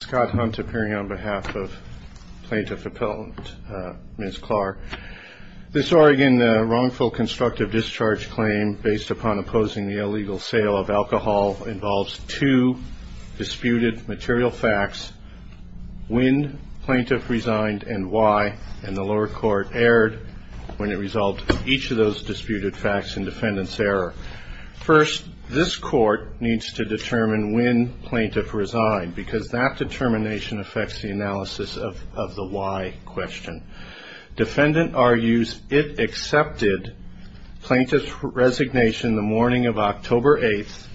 Scott Hunt appearing on behalf of Plaintiff Appellant, Ms. Clark. This Oregon wrongful constructive discharge claim based upon opposing the illegal sale of alcohol involves two disputed material facts, when plaintiff resigned and why, and the lower court erred when it resolved each of those disputed facts in defendant's error. First, this court needs to determine when plaintiff resigned, because that determination affects the analysis of the why question. Defendant argues it accepted plaintiff's resignation the morning of October 8th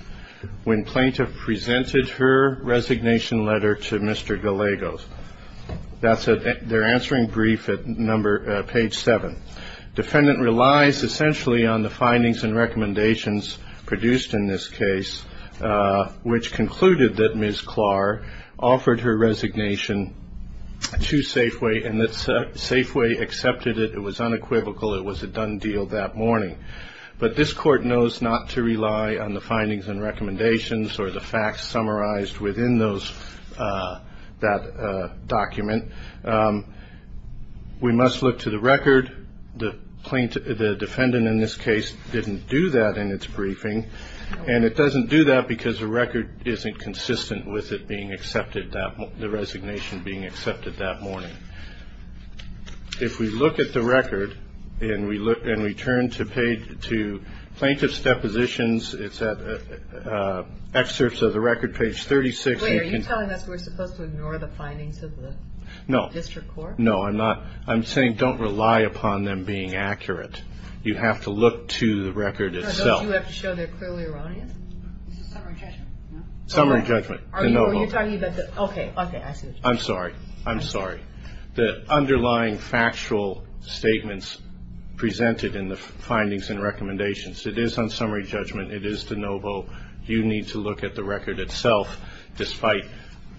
when plaintiff presented her resignation letter to Mr. Gallegos. They're answering brief at page 7. Defendant relies essentially on the findings and recommendations produced in this case, which concluded that Ms. Clark offered her resignation to Safeway and that Safeway accepted it. It was unequivocal. It was a done deal that morning. But this court knows not to rely on the findings and recommendations or the facts summarized within that document. We must look to the record. The defendant in this case didn't do that in its briefing, and it doesn't do that because the record isn't consistent with it being accepted, the resignation being accepted that morning. If we look at the record and we turn to plaintiff's depositions, it's at excerpts of the record, page 36. Wait, are you telling us we're supposed to ignore the findings of the district court? No, I'm not. I'm saying don't rely upon them being accurate. You have to look to the record itself. No, don't you have to show they're clearly erroneous? It's a summary judgment. Summary judgment, de novo. Okay, okay, I see what you're saying. I'm sorry. I'm sorry. it is on summary judgment. It is de novo. You need to look at the record itself, despite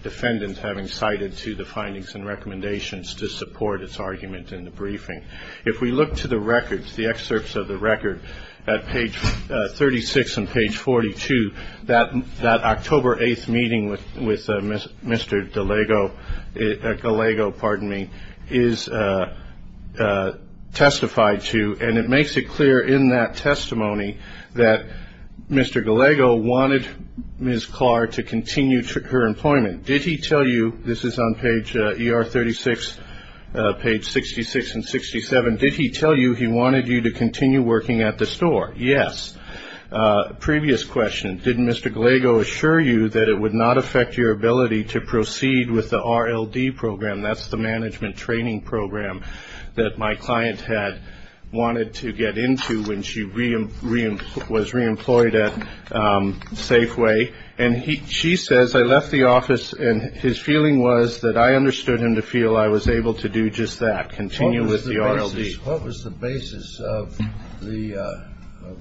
defendants having cited to the findings and recommendations to support its argument in the briefing. If we look to the records, the excerpts of the record, at page 36 and page 42, that October 8th meeting with Mr. Gallego is testified to, and it makes it clear in that testimony that Mr. Gallego wanted Ms. Clark to continue her employment. Did he tell you, this is on page ER 36, page 66 and 67, did he tell you he wanted you to continue working at the store? Yes. Previous question, did Mr. Gallego assure you that it would not affect your ability to proceed with the RLD program, that's the management training program that my client had wanted to get into when she was reemployed at Safeway? And she says, I left the office, and his feeling was that I understood him to feel I was able to do just that, continue with the RLD. What was the basis of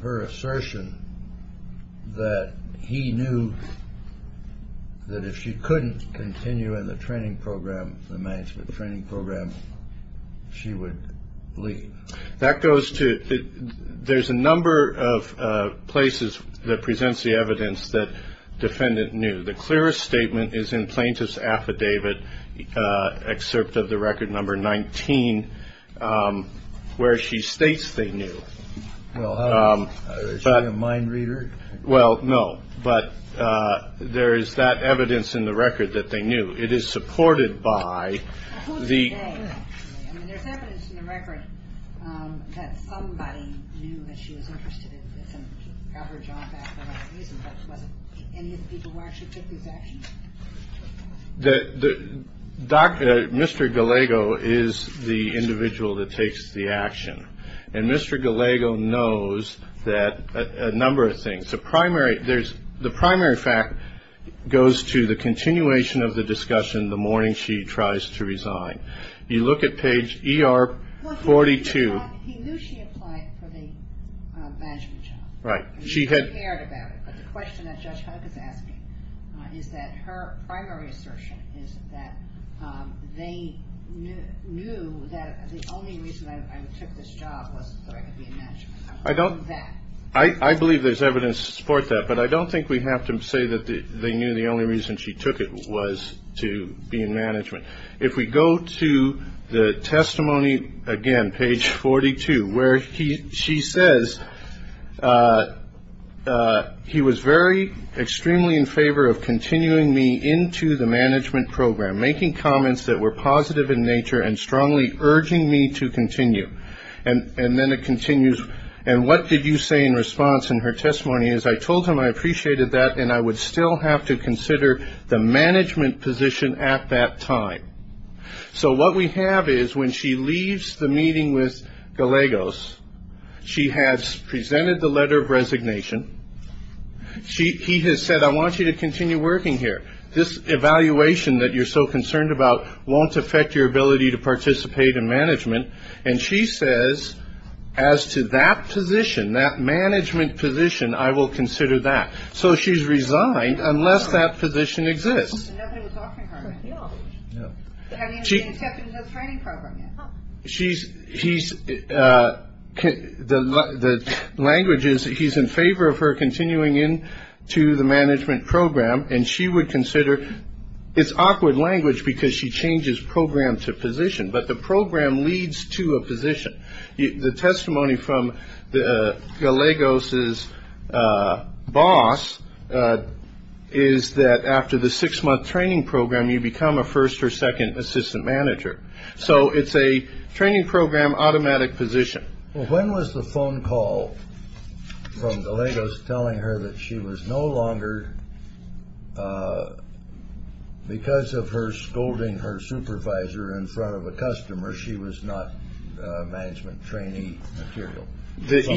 her assertion that he knew that if she couldn't continue in the training program, the management training program, she would leave? That goes to, there's a number of places that presents the evidence that defendant knew. The clearest statement is in plaintiff's affidavit, excerpt of the record number 19, where she states they knew. Well, is she a mind reader? Well, no, but there is that evidence in the record that they knew. It is supported by the- Mr. Gallego is the individual that takes the action, and Mr. Gallego knows that a number of things. The primary fact goes to the continuation of the discussion the morning she tries to resign. You look at page ER 42- Well, he knew she applied for the management job. Right. He cared about it, but the question that Judge Hunk is asking is that her primary assertion is that they knew that the only reason I took this job was so I could be in management. I believe there's evidence to support that, but I don't think we have to say that they knew the only reason she took it was to be in management. If we go to the testimony, again, page 42, where she says, he was very extremely in favor of continuing me into the management program, making comments that were positive in nature and strongly urging me to continue. And then it continues, and what did you say in response in her testimony? I told him I appreciated that, and I would still have to consider the management position at that time. So what we have is when she leaves the meeting with Gallegos, she has presented the letter of resignation. He has said, I want you to continue working here. This evaluation that you're so concerned about won't affect your ability to participate in management. And she says, as to that position, that management position, I will consider that. So she's resigned, unless that position exists. The language is he's in favor of her continuing into the management program, and she would consider it's awkward language because she changes program to position, but the program leads to a position. The testimony from Gallegos' boss is that after the six-month training program, you become a first or second assistant manager. So it's a training program automatic position. When was the phone call from Gallegos telling her that she was no longer, because of her scolding her supervisor in front of a customer, she was not management trainee material? That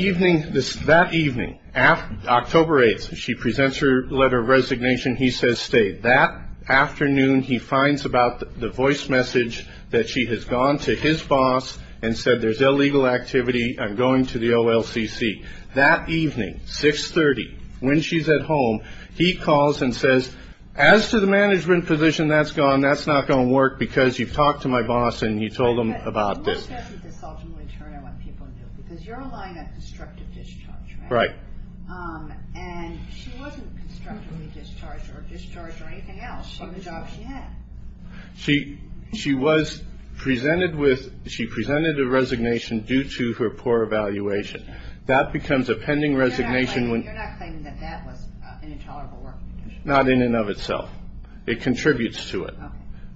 evening, October 8th, she presents her letter of resignation. He says stay. That afternoon, he finds about the voice message that she has gone to his boss and said there's illegal activity, I'm going to the OLCC. That evening, 6.30, when she's at home, he calls and says, as to the management position that's gone, that's not going to work because you've talked to my boss and you told him about this. Because you're relying on constructive discharge, right? Right. And she wasn't constructively discharged or discharged or anything else from the job she had. She presented a resignation due to her poor evaluation. That becomes a pending resignation. You're not claiming that that was an intolerable work condition? Not in and of itself. It contributes to it.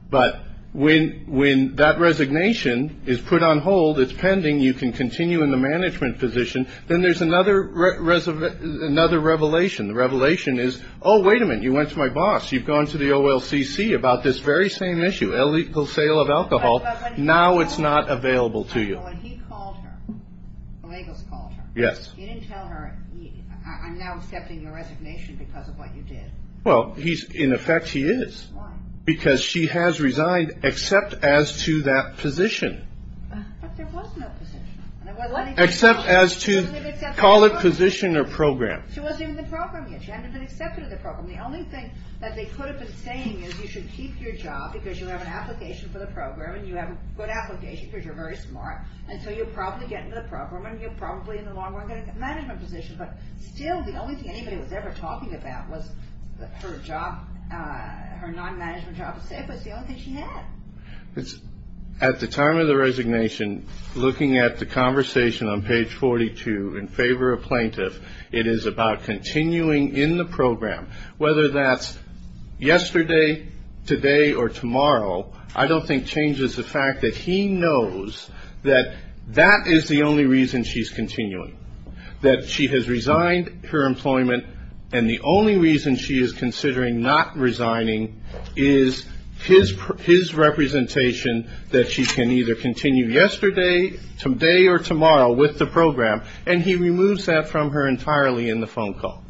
But when that resignation is put on hold, it's pending, you can continue in the management position. Then there's another revelation. The revelation is, oh, wait a minute, you went to my boss. You've gone to the OLCC about this very same issue, illegal sale of alcohol. Now it's not available to you. But when he called her, when he called her, when Lagos called her. Yes. You didn't tell her, I'm now accepting your resignation because of what you did. Well, in effect, he is. Why? Because she has resigned except as to that position. But there was no position. Except as to, call it position or program. She wasn't in the program yet. She hadn't been accepted in the program. The only thing that they could have been saying is you should keep your job because you have an application for the program and you have a good application because you're very smart. And so you'll probably get into the program and you're probably in the long-run management position. But still, the only thing anybody was ever talking about was her job, her non-management job. It was the only thing she had. At the time of the resignation, looking at the conversation on page 42, in favor of plaintiff, it is about continuing in the program. Whether that's yesterday, today, or tomorrow, I don't think changes the fact that he knows that that is the only reason she's continuing, that she has resigned her employment and the only reason she is considering not resigning is his representation that she can either continue yesterday, today, or tomorrow with the program. And he removes that from her entirely in the phone call.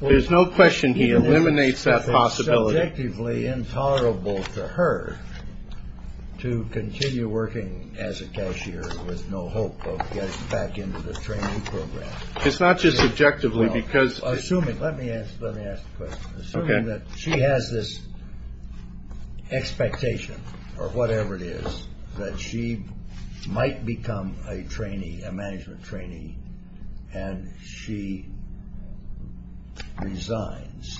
There's no question he eliminates that possibility. It's subjectively intolerable to her to continue working as a cashier with no hope of getting back into the training program. It's not just subjectively because... Assuming, let me ask the question. Okay. Assuming that she has this expectation, or whatever it is, that she might become a trainee, a management trainee, and she resigns,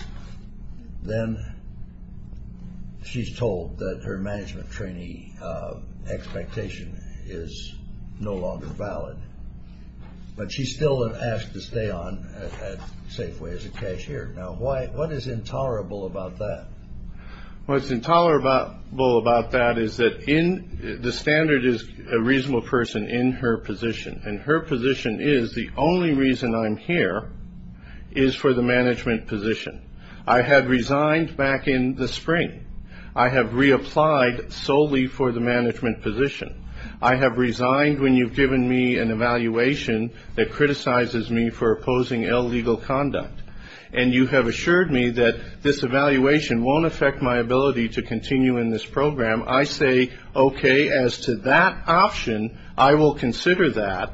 then she's told that her management trainee expectation is no longer valid. But she's still asked to stay on at Safeway as a cashier. Now, what is intolerable about that? What's intolerable about that is that the standard is a reasonable person in her position. And her position is the only reason I'm here is for the management position. I had resigned back in the spring. I have reapplied solely for the management position. I have resigned when you've given me an evaluation that criticizes me for opposing illegal conduct. And you have assured me that this evaluation won't affect my ability to continue in this program. I say, okay, as to that option, I will consider that.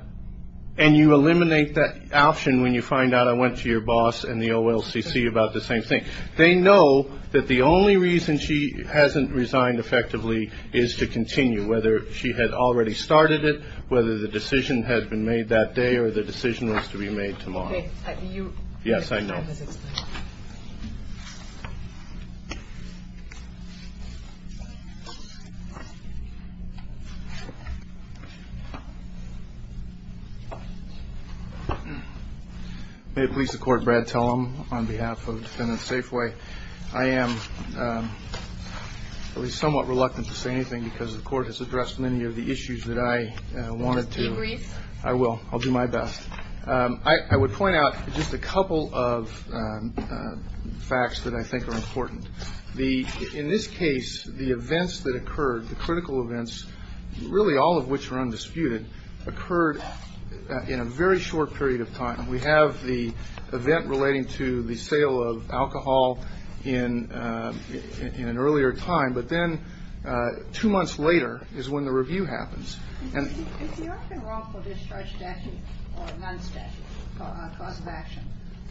And you eliminate that option when you find out I went to your boss and the OLCC about the same thing. They know that the only reason she hasn't resigned effectively is to continue, whether she had already started it, whether the decision had been made that day or the decision was to be made tomorrow. Yes, I know. May it please the Court, Brad Tellem, on behalf of Defendant Safeway. I am at least somewhat reluctant to say anything because the Court has addressed many of the issues that I wanted to. Just be brief. I will. I'll do my best. I would point out just a couple of facts that I think are important. In this case, the events that occurred, the critical events, really all of which were undisputed, occurred in a very short period of time. We have the event relating to the sale of alcohol in an earlier time, but then two months later is when the review happens. Is there often wrongful discharge statute or non-statute for a cause of action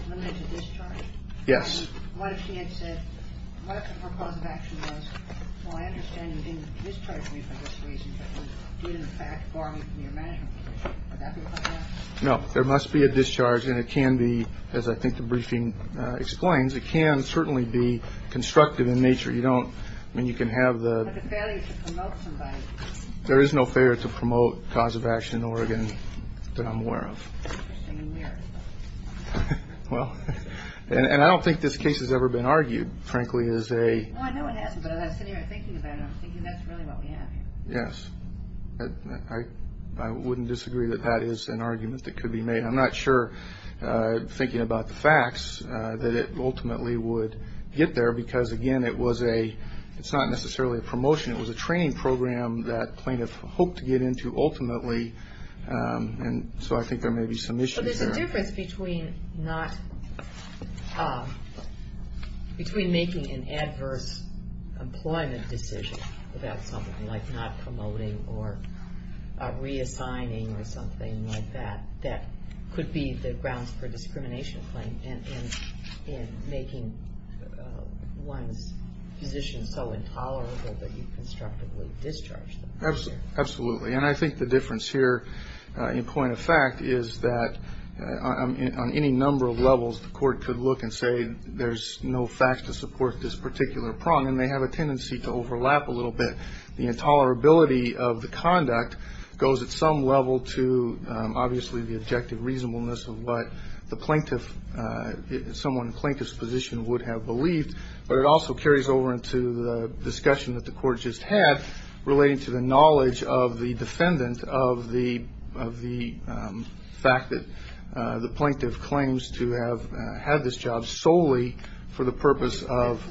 limited to discharge? Yes. What if she had said, what if her cause of action was, well, I understand you didn't discharge me for this reason, but you did in fact bar me from your management position? Would that be a problem? No. There must be a discharge, and it can be, as I think the briefing explains, it can certainly be constructive in nature. You don't, I mean, you can have the... But the failure to promote somebody. There is no failure to promote cause of action in Oregon that I'm aware of. Interesting and weird. Well, and I don't think this case has ever been argued, frankly, as a... Well, I know it hasn't, but as I sit here thinking about it, I'm thinking that's really what we have here. Yes. I wouldn't disagree that that is an argument that could be made. I'm not sure, thinking about the facts, that it ultimately would get there because, again, it was a... that plaintiff hoped to get into ultimately, and so I think there may be some issues there. So there's a difference between not, between making an adverse employment decision about something, like not promoting or reassigning or something like that, that could be the grounds for a discrimination claim in making one's position so intolerable that you constructively discharge them. Absolutely. And I think the difference here, in point of fact, is that on any number of levels, the court could look and say there's no facts to support this particular prong, and they have a tendency to overlap a little bit. The intolerability of the conduct goes at some level to, obviously, the objective reasonableness of what the plaintiff, someone in the plaintiff's position would have believed, but it also carries over into the discussion that the court just had relating to the knowledge of the defendant, of the fact that the plaintiff claims to have had this job solely for the purpose of...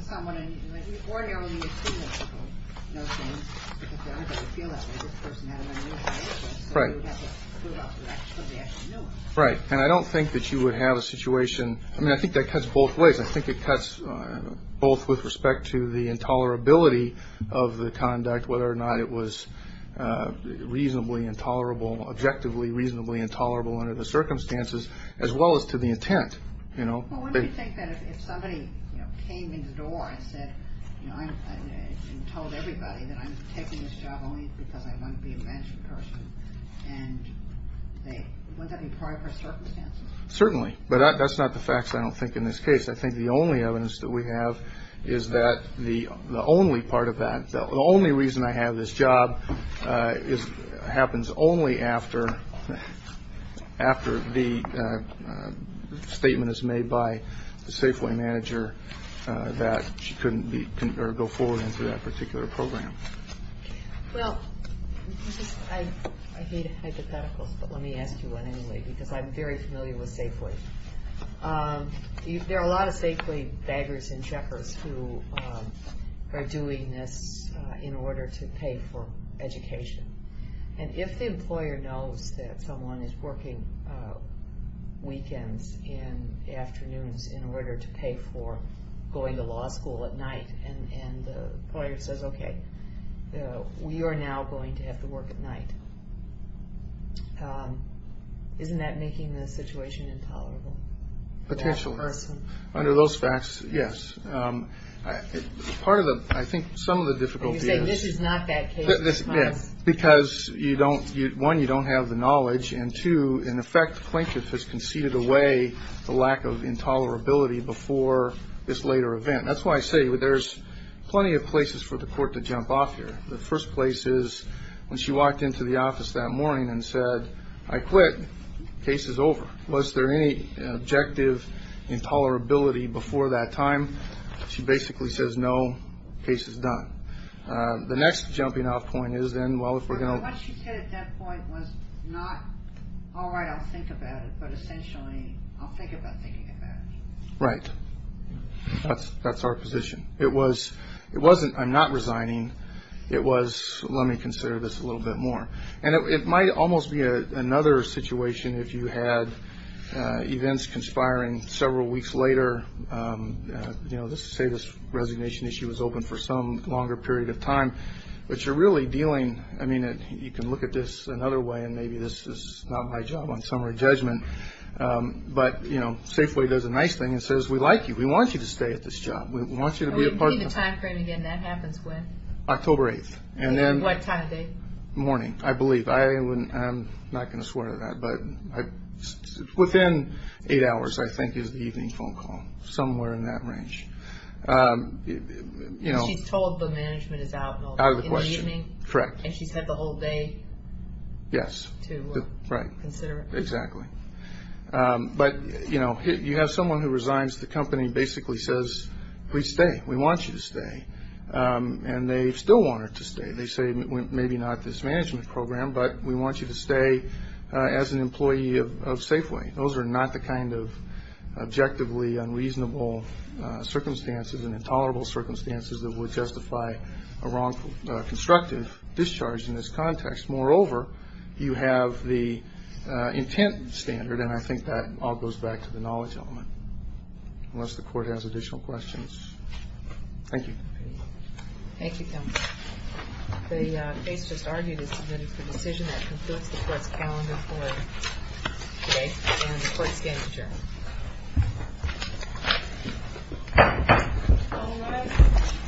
Right. And I don't think that you would have a situation... I mean, I think that cuts both ways. I think it cuts both with respect to the intolerability of the conduct, whether or not it was reasonably intolerable, objectively reasonably intolerable under the circumstances, as well as to the intent, you know. Well, wouldn't you think that if somebody, you know, came in the door and said, you know, I told everybody that I'm taking this job only because I want to be a bench recursion, and wouldn't that be part of her circumstances? Certainly. But that's not the facts, I don't think, in this case. I think the only evidence that we have is that the only part of that, the only reason I have this job happens only after the statement is made by the Safeway manager that she couldn't go forward into that particular program. Well, I hate hypotheticals, but let me ask you one anyway, because I'm very familiar with Safeway. There are a lot of Safeway beggars and checkers who are doing this in order to pay for education. And if the employer knows that someone is working weekends and afternoons in order to pay for going to law school at night, and the employer says, okay, we are now going to have to work at night, isn't that making the situation intolerable? Potentially. For that person. Under those facts, yes. Part of the, I think some of the difficulty is. You're saying this is not that case. Yes. Because you don't, one, you don't have the knowledge, and two, in effect, the plaintiff has conceded away the lack of intolerability before this later event. That's why I say there's plenty of places for the court to jump off here. The first place is when she walked into the office that morning and said, I quit. Case is over. Was there any objective intolerability before that time? She basically says, no, case is done. The next jumping off point is then, well, if we're going to. What she said at that point was not, all right, I'll think about it, but essentially, I'll think about thinking about it. Right. That's our position. It was, it wasn't, I'm not resigning. It was, let me consider this a little bit more. And it might almost be another situation if you had events conspiring several weeks later. You know, let's say this resignation issue was open for some longer period of time. But you're really dealing, I mean, you can look at this another way, and maybe this is not my job on summary judgment. But, you know, Safeway does a nice thing and says, we like you. We want you to stay at this job. We want you to be a part of the. I'm repeating the time frame again. That happens when? October 8th. And then. What time of day? Morning, I believe. I wouldn't, I'm not going to swear to that. But within eight hours, I think, is the evening phone call. Somewhere in that range. You know. She's told the management is out in the evening. Out of the question. Correct. And she's had the whole day. Yes. To consider it. Right. Exactly. But, you know, you have someone who resigns. The company basically says, please stay. We want you to stay. And they still want her to stay. They say, maybe not this management program, but we want you to stay as an employee of Safeway. Those are not the kind of objectively unreasonable circumstances and intolerable circumstances that would justify a wrongful, constructive discharge in this context. Moreover, you have the intent standard, and I think that all goes back to the knowledge element. Unless the court has additional questions. Thank you. Thank you, counsel. The case just argued is submitted for decision. That concludes the court's calendar for today. And the court's game adjourned. All rise.